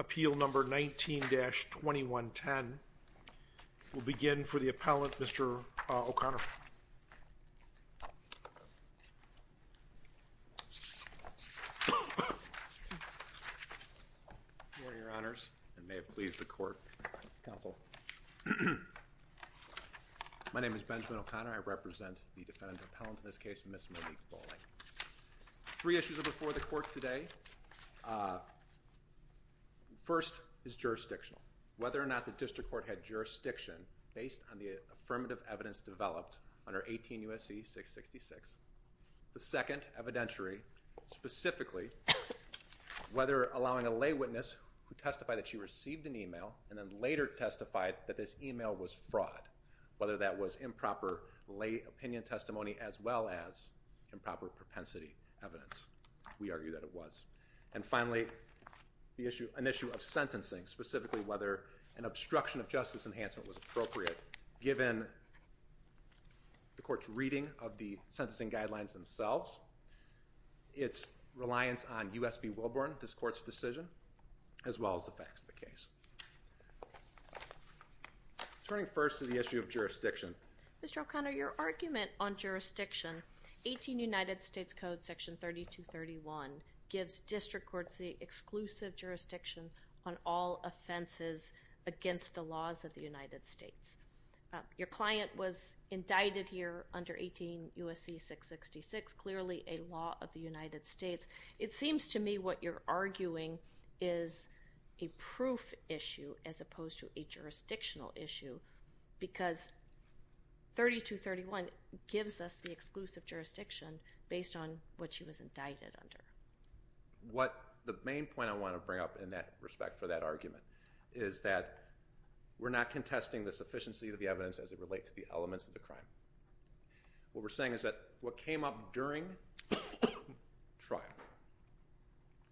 Appeal number 19-2110. We'll begin for the appellant, Mr. O'Connor. My name is Benjamin O'Connor. I represent the defendant appellant in this case, Ms. Monique Bowling. Three issues are before the court today. First is jurisdictional. Whether or not the district court had jurisdiction based on the affirmative evidence developed under 18 U.S.C. 666. The second, evidentiary. Specifically, whether allowing a lay witness who testified that she received an email and then later testified that this email was fraud. Whether that was improper lay opinion testimony as well as improper propensity evidence. We argue that it was. And finally, an issue of sentencing. Specifically, whether an obstruction of justice enhancement was appropriate given the court's reading of the sentencing guidelines themselves, its reliance on U.S. v. Wilburn, this court's decision, as well as the facts of the case. Turning first to the issue of jurisdiction. Mr. O'Connor, your argument on jurisdiction, 18 United States Code section 3231, gives district courts the exclusive jurisdiction on all offenses against the laws of the United States. Your client was indicted here under 18 U.S.C. 666, clearly a law of the United States. It seems to me what you're arguing is a proof issue as opposed to a jurisdictional issue because 3231 gives us the exclusive jurisdiction based on what she was indicted under. The main point I want to bring up in that respect for that argument is that we're not contesting the sufficiency of the evidence as it relates to the elements of the crime. What we're saying is that what came up during trial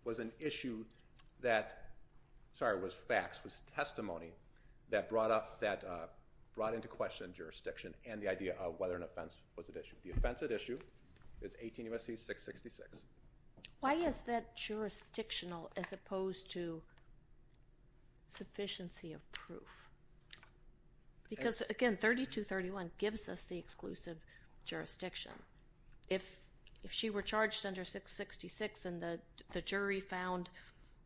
was an issue that, sorry, was facts, was testimony that brought into question jurisdiction and the idea of whether an offense was at issue. The offense at issue is 18 U.S.C. 666. Why is that jurisdictional as opposed to sufficiency of proof? Because, again, 3231 gives us the exclusive jurisdiction. If she were charged under 666 and the jury found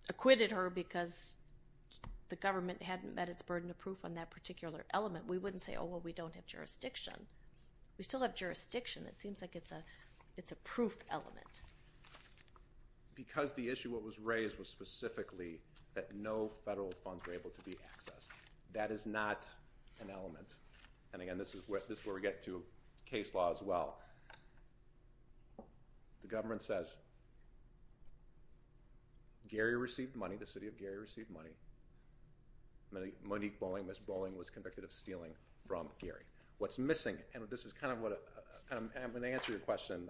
acquitted her because the government hadn't met its burden of proof on that particular element, we wouldn't say, oh, well, we don't have jurisdiction. We still have jurisdiction. It seems like it's a proof element. Because the issue that was raised was specifically that no federal funds were able to be accessed. That is not an element. And, again, this is where we get to case law as well. The government says Gary received money. The city of Gary received money. Monique Bowling, Ms. Bowling, was convicted of stealing from Gary. What's missing? And this is kind of what I'm going to answer your question.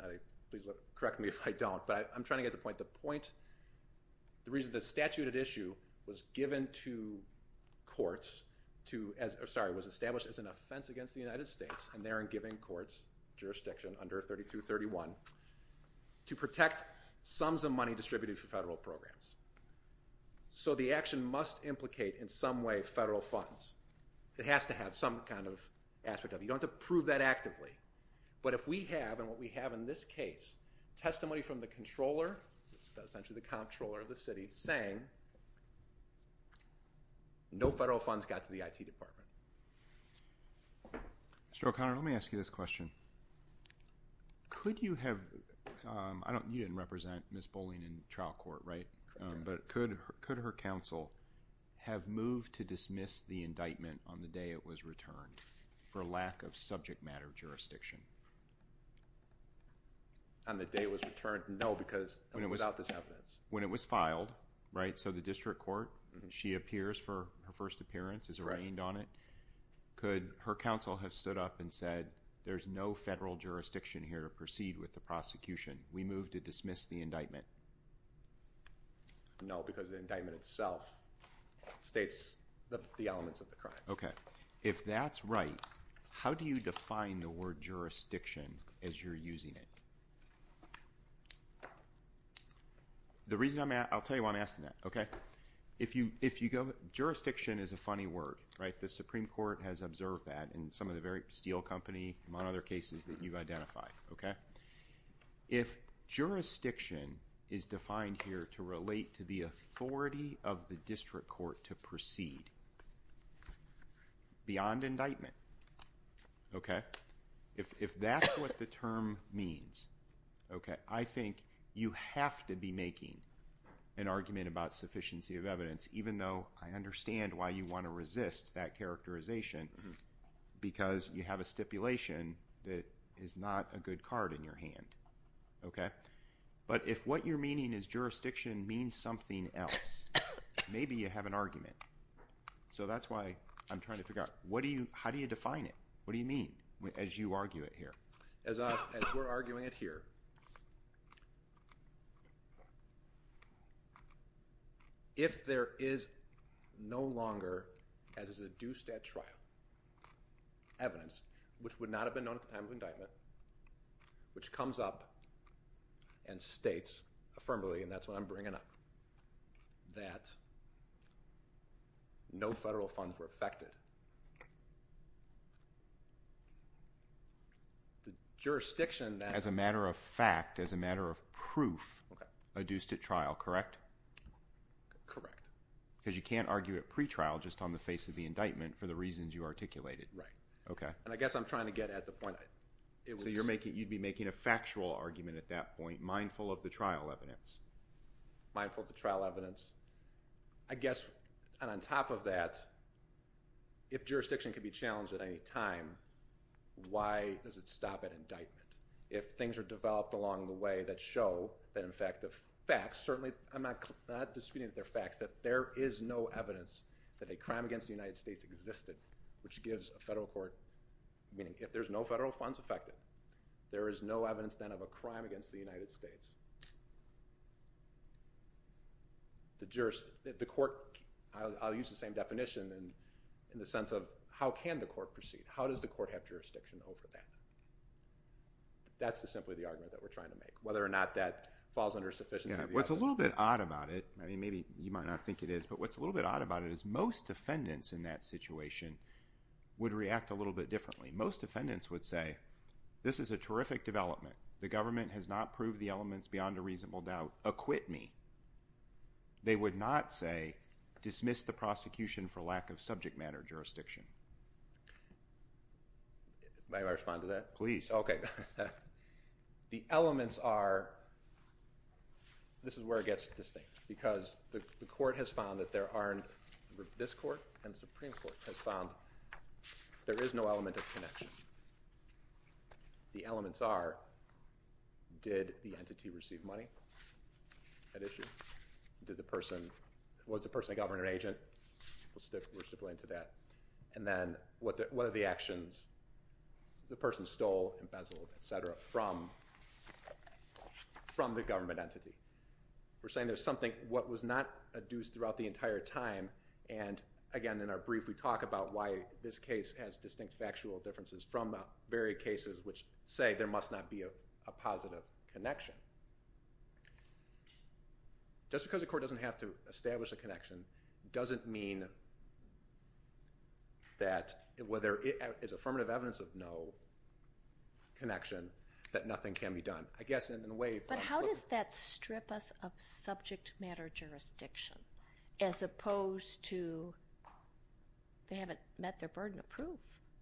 Please correct me if I don't. But I'm trying to get the point. The point, the reason the statute at issue was given to courts to, sorry, was established as an offense against the United States and therein giving courts jurisdiction under 3231 to protect sums of money distributed through federal programs. So the action must implicate in some way federal funds. It has to have some kind of aspect of it. You don't have to prove that actively. But if we have, and what we have in this case, testimony from the controller, essentially the comptroller of the city, saying no federal funds got to the IT department. Mr. O'Connor, let me ask you this question. Could you have, you didn't represent Ms. Bowling in trial court, right? But could her counsel have moved to dismiss the indictment on the day it was returned for lack of subject matter jurisdiction? On the day it was returned? No, because without this evidence. When it was filed, right? So the district court, she appears for her first appearance, is arraigned on it. Could her counsel have stood up and said, there's no federal jurisdiction here to proceed with the prosecution. We move to dismiss the indictment. No, because the indictment itself states the elements of the crime. Okay. If that's right, how do you define the word jurisdiction as you're using it? The reason I'm, I'll tell you why I'm asking that, okay? If you go, jurisdiction is a funny word, right? The Supreme Court has observed that in some of the very, Steel Company, among other cases that you've identified, okay? If jurisdiction is defined here to relate to the authority of the district court to proceed beyond indictment, okay? If that's what the term means, okay, I think you have to be making an argument about sufficiency of evidence. Even though I understand why you want to resist that characterization, because you have a stipulation that is not a good card in your hand, okay? But if what you're meaning is jurisdiction means something else, maybe you have an argument. So that's why I'm trying to figure out, what do you, how do you define it? What do you mean as you argue it here? As we're arguing it here, if there is no longer, as is a due stat trial, evidence, which would not have been known at the time of indictment, which comes up and states affirmatively, and that's what I'm bringing up, that no federal funds were affected. The jurisdiction, as a matter of fact, as a matter of proof, a due stat trial, correct? Correct. Because you can't argue a pretrial just on the face of the indictment for the reasons you articulated. Right. Okay. And I guess I'm trying to get at the point. So you'd be making a factual argument at that point, mindful of the trial evidence? Mindful of the trial evidence. I guess, and on top of that, if jurisdiction can be challenged at any time, why does it stop at indictment? If things are developed along the way that show that, in fact, the facts, certainly I'm not disputing that they're facts, that there is no evidence that a crime against the United States existed, which gives a federal court, meaning if there's no federal funds affected, there is no evidence then of a crime against the United States. The court, I'll use the same definition in the sense of how can the court proceed? How does the court have jurisdiction over that? That's simply the argument that we're trying to make, whether or not that falls under sufficiency of the evidence. What's a little bit odd about it, maybe you might not think it is, but what's a little bit odd about it is most defendants in that situation would react a little bit differently. Most defendants would say, this is a terrific development. The government has not proved the elements beyond a reasonable doubt. Acquit me. They would not say, dismiss the prosecution for lack of subject matter jurisdiction. May I respond to that? Please. Okay. The elements are, this is where it gets distinct, because the court has found that there aren't, this court and the Supreme Court has found there is no element of connection. The elements are, did the entity receive money at issue? Was the person a government agent? We'll stick into that. And then, what are the actions the person stole, embezzled, et cetera, from the government entity? We're saying there's something, what was not adduced throughout the entire time, and again, in our brief, we talk about why this case has distinct factual differences from the very cases which say there must not be a positive connection. Just because the court doesn't have to establish a connection doesn't mean that whether it's affirmative evidence of no connection, that nothing can be done. I guess in a way. But how does that strip us of subject matter jurisdiction, as opposed to they haven't met their burden of proof?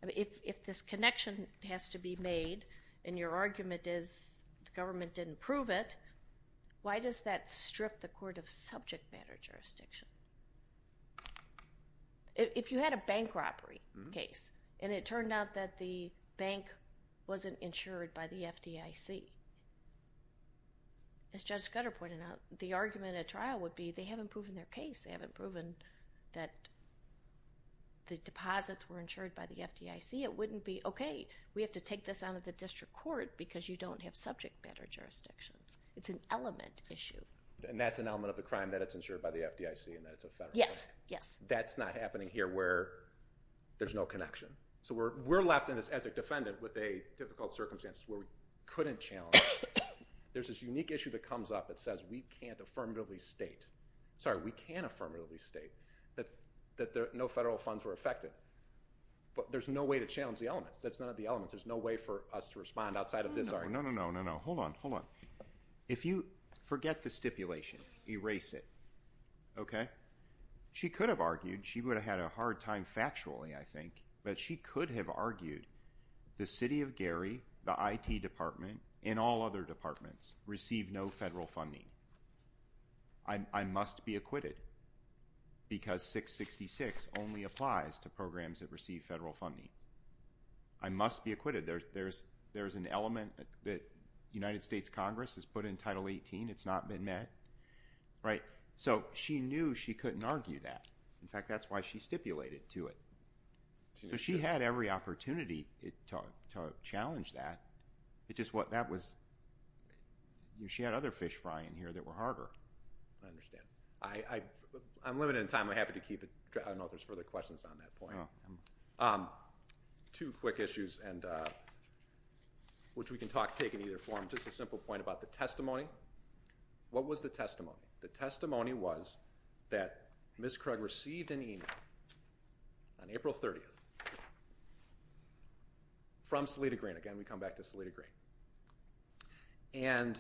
If this connection has to be made, and your argument is the government didn't prove it, why does that strip the court of subject matter jurisdiction? If you had a bank robbery case, and it turned out that the bank wasn't insured by the FDIC, as Judge Scudder pointed out, the argument at trial would be they haven't proven their case. They haven't proven that the deposits were insured by the FDIC. It wouldn't be, okay, we have to take this out of the district court because you don't have subject matter jurisdiction. It's an element issue. And that's an element of the crime that it's insured by the FDIC and that it's a federal crime. Yes, yes. That's not happening here where there's no connection. So we're left, as a defendant, with a difficult circumstance where we couldn't challenge. There's this unique issue that comes up that says we can't affirmatively state. Sorry, we can affirmatively state that no federal funds were affected. But there's no way to challenge the elements. That's none of the elements. There's no way for us to respond outside of this argument. No, no, no, no, no. Hold on, hold on. If you forget the stipulation, erase it, okay? She could have argued. She would have had a hard time factually, I think. But she could have argued the city of Gary, the IT department, and all other departments receive no federal funding. I must be acquitted because 666 only applies to programs that receive federal funding. I must be acquitted. There's an element that United States Congress has put in Title 18. It's not been met. Right? So she knew she couldn't argue that. In fact, that's why she stipulated to it. So she had every opportunity to challenge that. It's just what that was. She had other fish fry in here that were harder. I understand. I'm limited in time. I'm happy to keep it. I don't know if there's further questions on that point. Two quick issues, which we can take in either form. Just a simple point about the testimony. What was the testimony? The testimony was that Ms. Krug received an email on April 30th from Salita Green. Again, we come back to Salita Green. And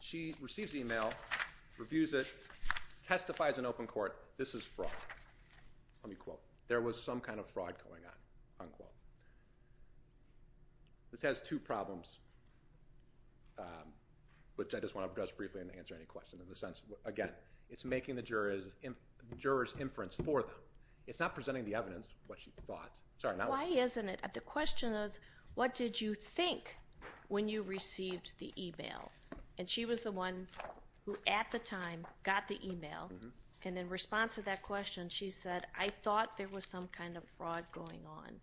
she receives the email, reviews it, testifies in open court, this is fraud. Let me quote. There was some kind of fraud going on, unquote. This has two problems, which I just want to address briefly and answer any questions. In the sense, again, it's making the jurors inference for them. It's not presenting the evidence, what she thought. Why isn't it? The question is, what did you think when you received the email? And she was the one who, at the time, got the email. And in response to that question, she said, I thought there was some kind of fraud going on.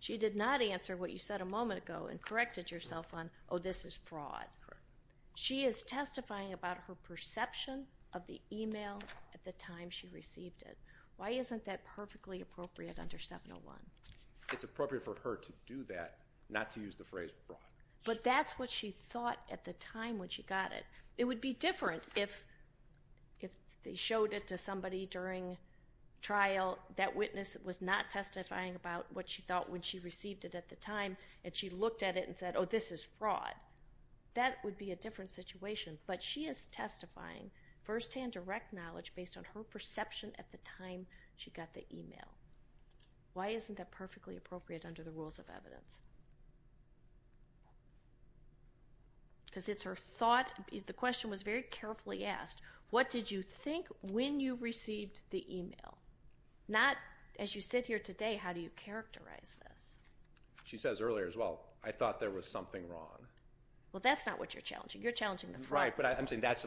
She did not answer what you said a moment ago and corrected yourself on, oh, this is fraud. She is testifying about her perception of the email at the time she received it. Why isn't that perfectly appropriate under 701? It's appropriate for her to do that, not to use the phrase fraud. But that's what she thought at the time when she got it. It would be different if they showed it to somebody during trial, that witness was not testifying about what she thought when she received it at the time, and she looked at it and said, oh, this is fraud. That would be a different situation. But she is testifying firsthand direct knowledge based on her perception at the time she got the email. Because it's her thought, the question was very carefully asked, what did you think when you received the email? Not, as you sit here today, how do you characterize this? She says earlier as well, I thought there was something wrong. Well, that's not what you're challenging. You're challenging the fraud. Right, but I'm saying that's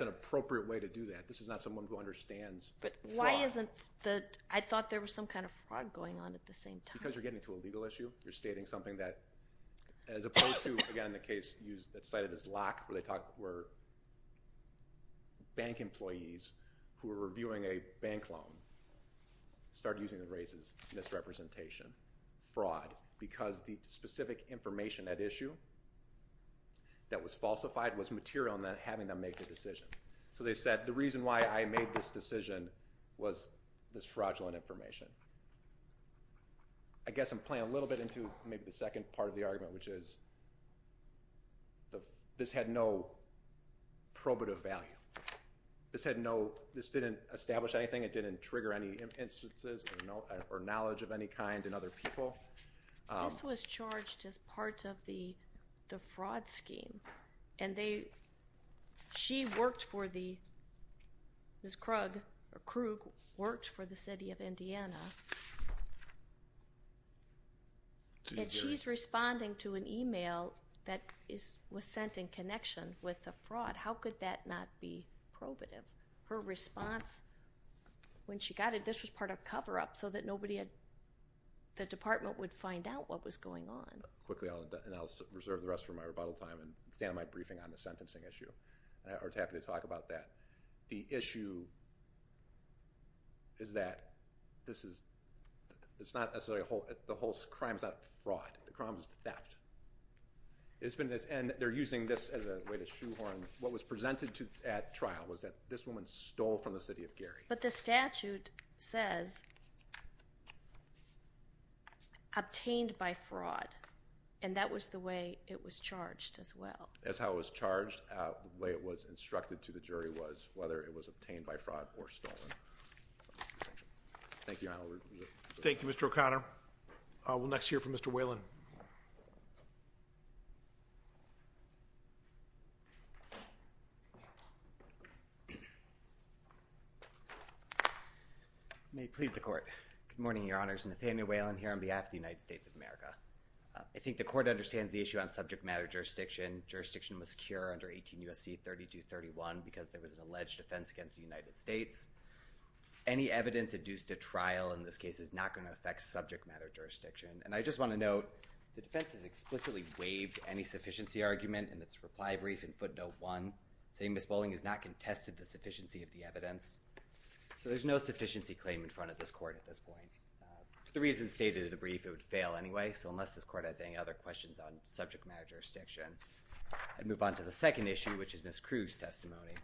an appropriate way to do that. This is not someone who understands fraud. But why isn't the, I thought there was some kind of fraud going on at the same time. Because you're getting to a legal issue, you're stating something that, as opposed to, again, the case that's cited as lock, where bank employees who were reviewing a bank loan started using the race as misrepresentation, fraud, because the specific information at issue that was falsified was material in having them make the decision. So they said the reason why I made this decision was this fraudulent information. I guess I'm playing a little bit into maybe the second part of the argument, which is this had no probative value. This didn't establish anything. It didn't trigger any instances or knowledge of any kind in other people. This was charged as part of the fraud scheme. And they, she worked for the, Ms. Krug worked for the city of Indiana. And she's responding to an email that was sent in connection with the fraud. How could that not be probative? Her response when she got it, this was part of cover-up so that nobody had, the department would find out what was going on. Quickly, and I'll reserve the rest for my rebuttal time and stand on my briefing on the sentencing issue. And I was happy to talk about that. The issue is that this is, it's not necessarily a whole, the whole crime is not fraud. The crime is theft. It's been this, and they're using this as a way to shoehorn, what was presented at trial was that this woman stole from the city of Gary. But the statute says, obtained by fraud. And that was the way it was charged as well. That's how it was charged. The way it was instructed to the jury was whether it was obtained by fraud or stolen. Thank you, Your Honor. Thank you, Mr. O'Connor. We'll next hear from Mr. Whalen. May it please the Court. Good morning, Your Honors. Nathaniel Whalen here on behalf of the United States of America. I think the Court understands the issue on subject matter jurisdiction. Jurisdiction was secure under 18 U.S.C. 3231 because there was an alleged offense against the United States. Any evidence induced at trial in this case is not going to affect subject matter jurisdiction. And I just want to note, the defense has explicitly waived any sufficiency argument in its reply brief in footnote one, saying Ms. Bowling has not contested the sufficiency of the evidence. So there's no sufficiency claim in front of this Court at this point. For the reasons stated in the brief, it would fail anyway. So unless this Court has any other questions on subject matter jurisdiction, I'd move on to the second issue, which is Ms. Krug's testimony.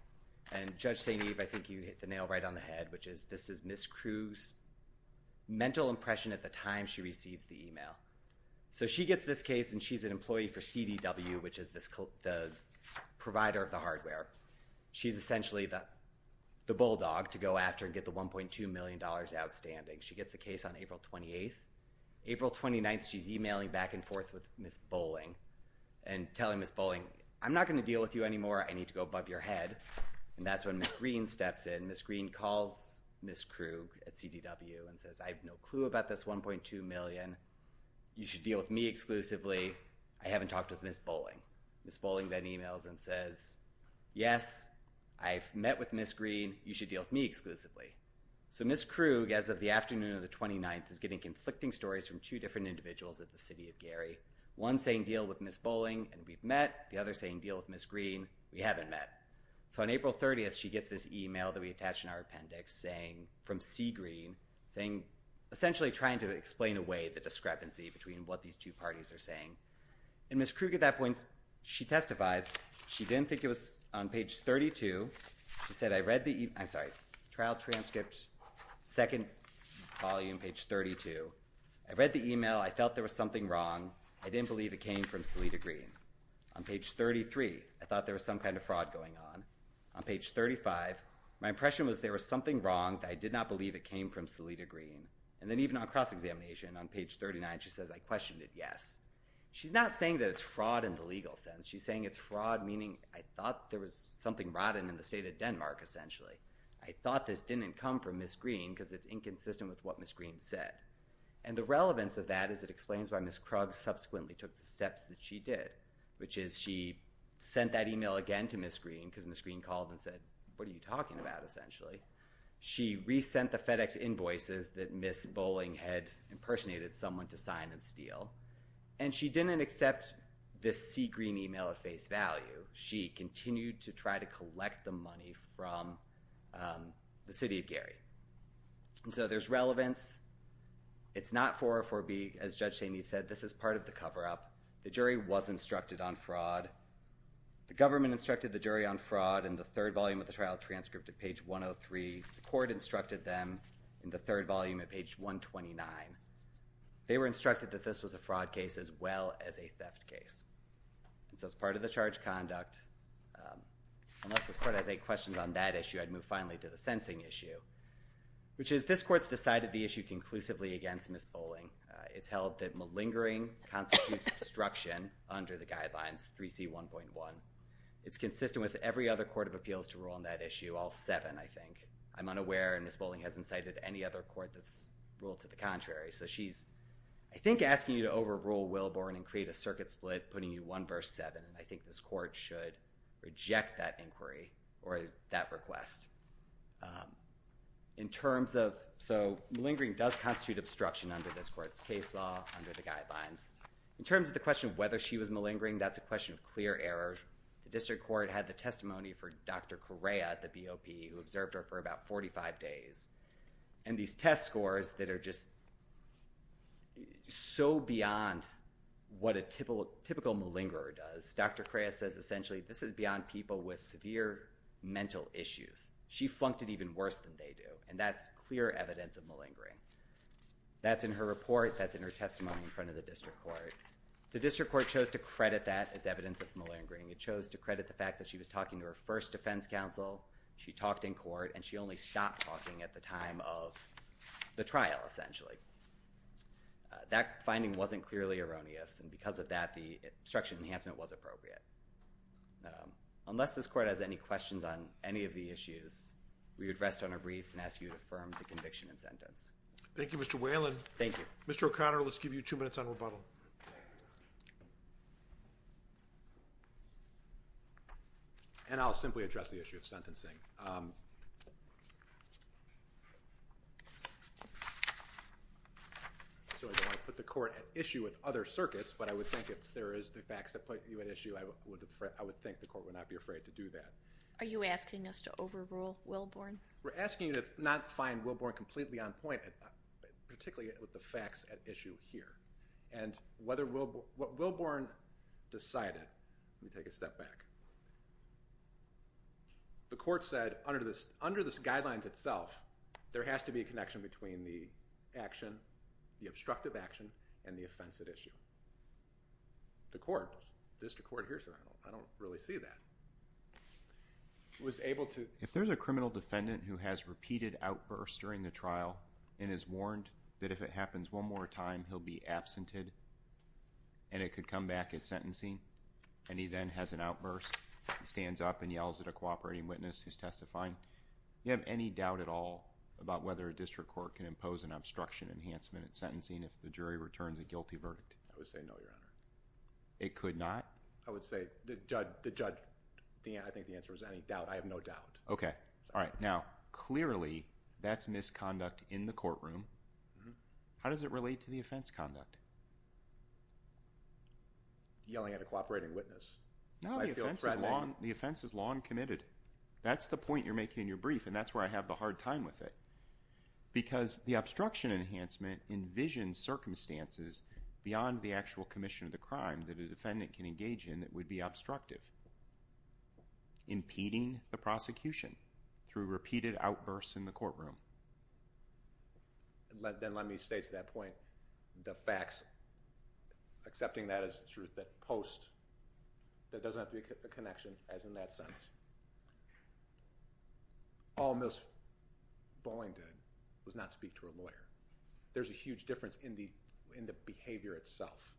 And Judge St. Eve, I think you hit the nail right on the head, which is this is Ms. Krug's mental impression at the time she receives the email. So she gets this case, and she's an employee for CDW, which is the provider of the hardware. She's essentially the bulldog to go after and get the $1.2 million outstanding. She gets the case on April 28th. April 29th, she's emailing back and forth with Ms. Bowling and telling Ms. Bowling, I'm not going to deal with you anymore. I need to go above your head. And that's when Ms. Green steps in. And Ms. Green calls Ms. Krug at CDW and says, I have no clue about this $1.2 million. You should deal with me exclusively. I haven't talked with Ms. Bowling. Ms. Bowling then emails and says, yes, I've met with Ms. Green. You should deal with me exclusively. So Ms. Krug, as of the afternoon of the 29th, is getting conflicting stories from two different individuals at the City of Gary, one saying deal with Ms. Bowling and we've met, the other saying deal with Ms. Green. We haven't met. So on April 30th, she gets this email that we attached in our appendix from C. Green, essentially trying to explain away the discrepancy between what these two parties are saying. And Ms. Krug, at that point, she testifies. She didn't think it was on page 32. She said, I read the email. I'm sorry. Trial transcript, second volume, page 32. I read the email. I felt there was something wrong. I didn't believe it came from Salida Green. On page 33, I thought there was some kind of fraud going on. On page 35, my impression was there was something wrong. I did not believe it came from Salida Green. And then even on cross-examination, on page 39, she says, I questioned it, yes. She's not saying that it's fraud in the legal sense. She's saying it's fraud, meaning I thought there was something rotten in the state of Denmark, essentially. I thought this didn't come from Ms. Green because it's inconsistent with what Ms. Green said. And the relevance of that is it explains why Ms. Krug subsequently took the steps that she did, which is she sent that email again to Ms. Green because Ms. Green called and said, what are you talking about, essentially. She resent the FedEx invoices that Ms. Bolling had impersonated someone to sign and steal. And she didn't accept this C. Green email at face value. She continued to try to collect the money from the city of Gary. And so there's relevance. It's not 404B. As Judge Taney said, this is part of the cover-up. The jury was instructed on fraud. The government instructed the jury on fraud in the third volume of the trial transcript at page 103. The court instructed them in the third volume at page 129. They were instructed that this was a fraud case as well as a theft case. And so it's part of the charge conduct. Unless this court has any questions on that issue, I'd move finally to the sensing issue, which is this court's decided the issue conclusively against Ms. Bolling. It's held that malingering constitutes obstruction under the guidelines, 3C1.1. It's consistent with every other court of appeals to rule on that issue, all seven, I think. I'm unaware, and Ms. Bolling hasn't cited any other court that's ruled to the contrary. So she's, I think, asking you to overrule Willborn and create a circuit split, putting you one verse seven. I think this court should reject that inquiry or that request. So malingering does constitute obstruction under this court's case law, under the guidelines. In terms of the question of whether she was malingering, that's a question of clear error. The district court had the testimony for Dr. Correa, the BOP, who observed her for about 45 days. And these test scores that are just so beyond what a typical malingerer does, Dr. Correa says essentially this is beyond people with severe mental issues. She flunked it even worse than they do, and that's clear evidence of malingering. That's in her report. That's in her testimony in front of the district court. The district court chose to credit that as evidence of malingering. It chose to credit the fact that she was talking to her first defense counsel. She talked in court, and she only stopped talking at the time of the trial, essentially. That finding wasn't clearly erroneous, and because of that, the obstruction enhancement was appropriate. Unless this court has any questions on any of the issues, we would rest on our briefs and ask you to affirm the conviction and sentence. Thank you, Mr. Whalen. Thank you. Mr. O'Connor, let's give you two minutes on rebuttal. Okay. And I'll simply address the issue of sentencing. So I don't want to put the court at issue with other circuits, but I would think if there is the facts that put you at issue, I would think the court would not be afraid to do that. Are you asking us to overrule Wilborn? We're asking you to not find Wilborn completely on point, particularly with the facts at issue here. And what Wilborn decided, let me take a step back, the court said under the guidelines itself, there has to be a connection between the action, the obstructive action, and the offense at issue. The court, district court, hears that. I don't really see that. If there's a criminal defendant who has repeated outbursts during the trial and is warned that if it happens one more time he'll be absented and it could come back at sentencing, and he then has an outburst, stands up and yells at a cooperating witness who's testifying, do you have any doubt at all about whether a district court can impose an obstruction enhancement at sentencing if the jury returns a guilty verdict? I would say no, Your Honor. It could not? I would say the judge, I think the answer was any doubt. I have no doubt. Okay. All right. Now, clearly that's misconduct in the courtroom. How does it relate to the offense conduct? Yelling at a cooperating witness. No, the offense is long committed. That's the point you're making in your brief, and that's where I have the hard time with it. Because the obstruction enhancement envisions circumstances beyond the actual commission of the crime that a defendant can engage in that would be obstructive, impeding the prosecution through repeated outbursts in the courtroom. Then let me stay to that point. The facts, accepting that as the truth, that post, that doesn't have to be a connection as in that sense. All Ms. Boeing did was not speak to a lawyer. There's a huge difference in the behavior itself,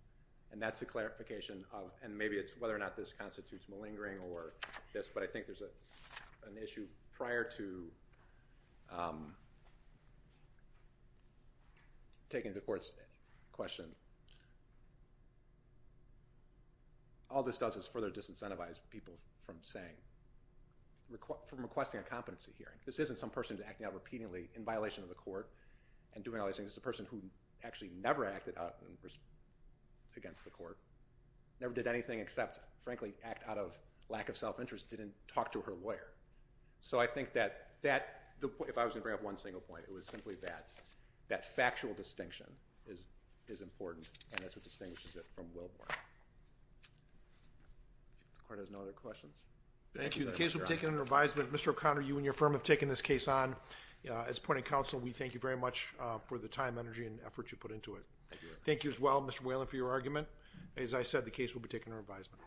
and that's the clarification of, and maybe it's whether or not this constitutes malingering or this, but I think there's an issue prior to taking the court's question. All this does is further disincentivize people from requesting a competency hearing. This isn't some person acting out repeatedly in violation of the court and doing all these things. This is a person who actually never acted out against the court, never did anything except, frankly, act out of lack of self-interest, didn't talk to her lawyer. So I think that that, if I was going to bring up one single point, it was simply that that factual distinction is important, and that's what distinguishes it from Wilborn. If the court has no other questions. Thank you. The case will be taken under advisement. Mr. O'Connor, you and your firm have taken this case on. As a point of counsel, we thank you very much for the time, energy, and effort you put into it. Thank you as well, Mr. Whalen, for your argument. As I said, the case will be taken under advisement.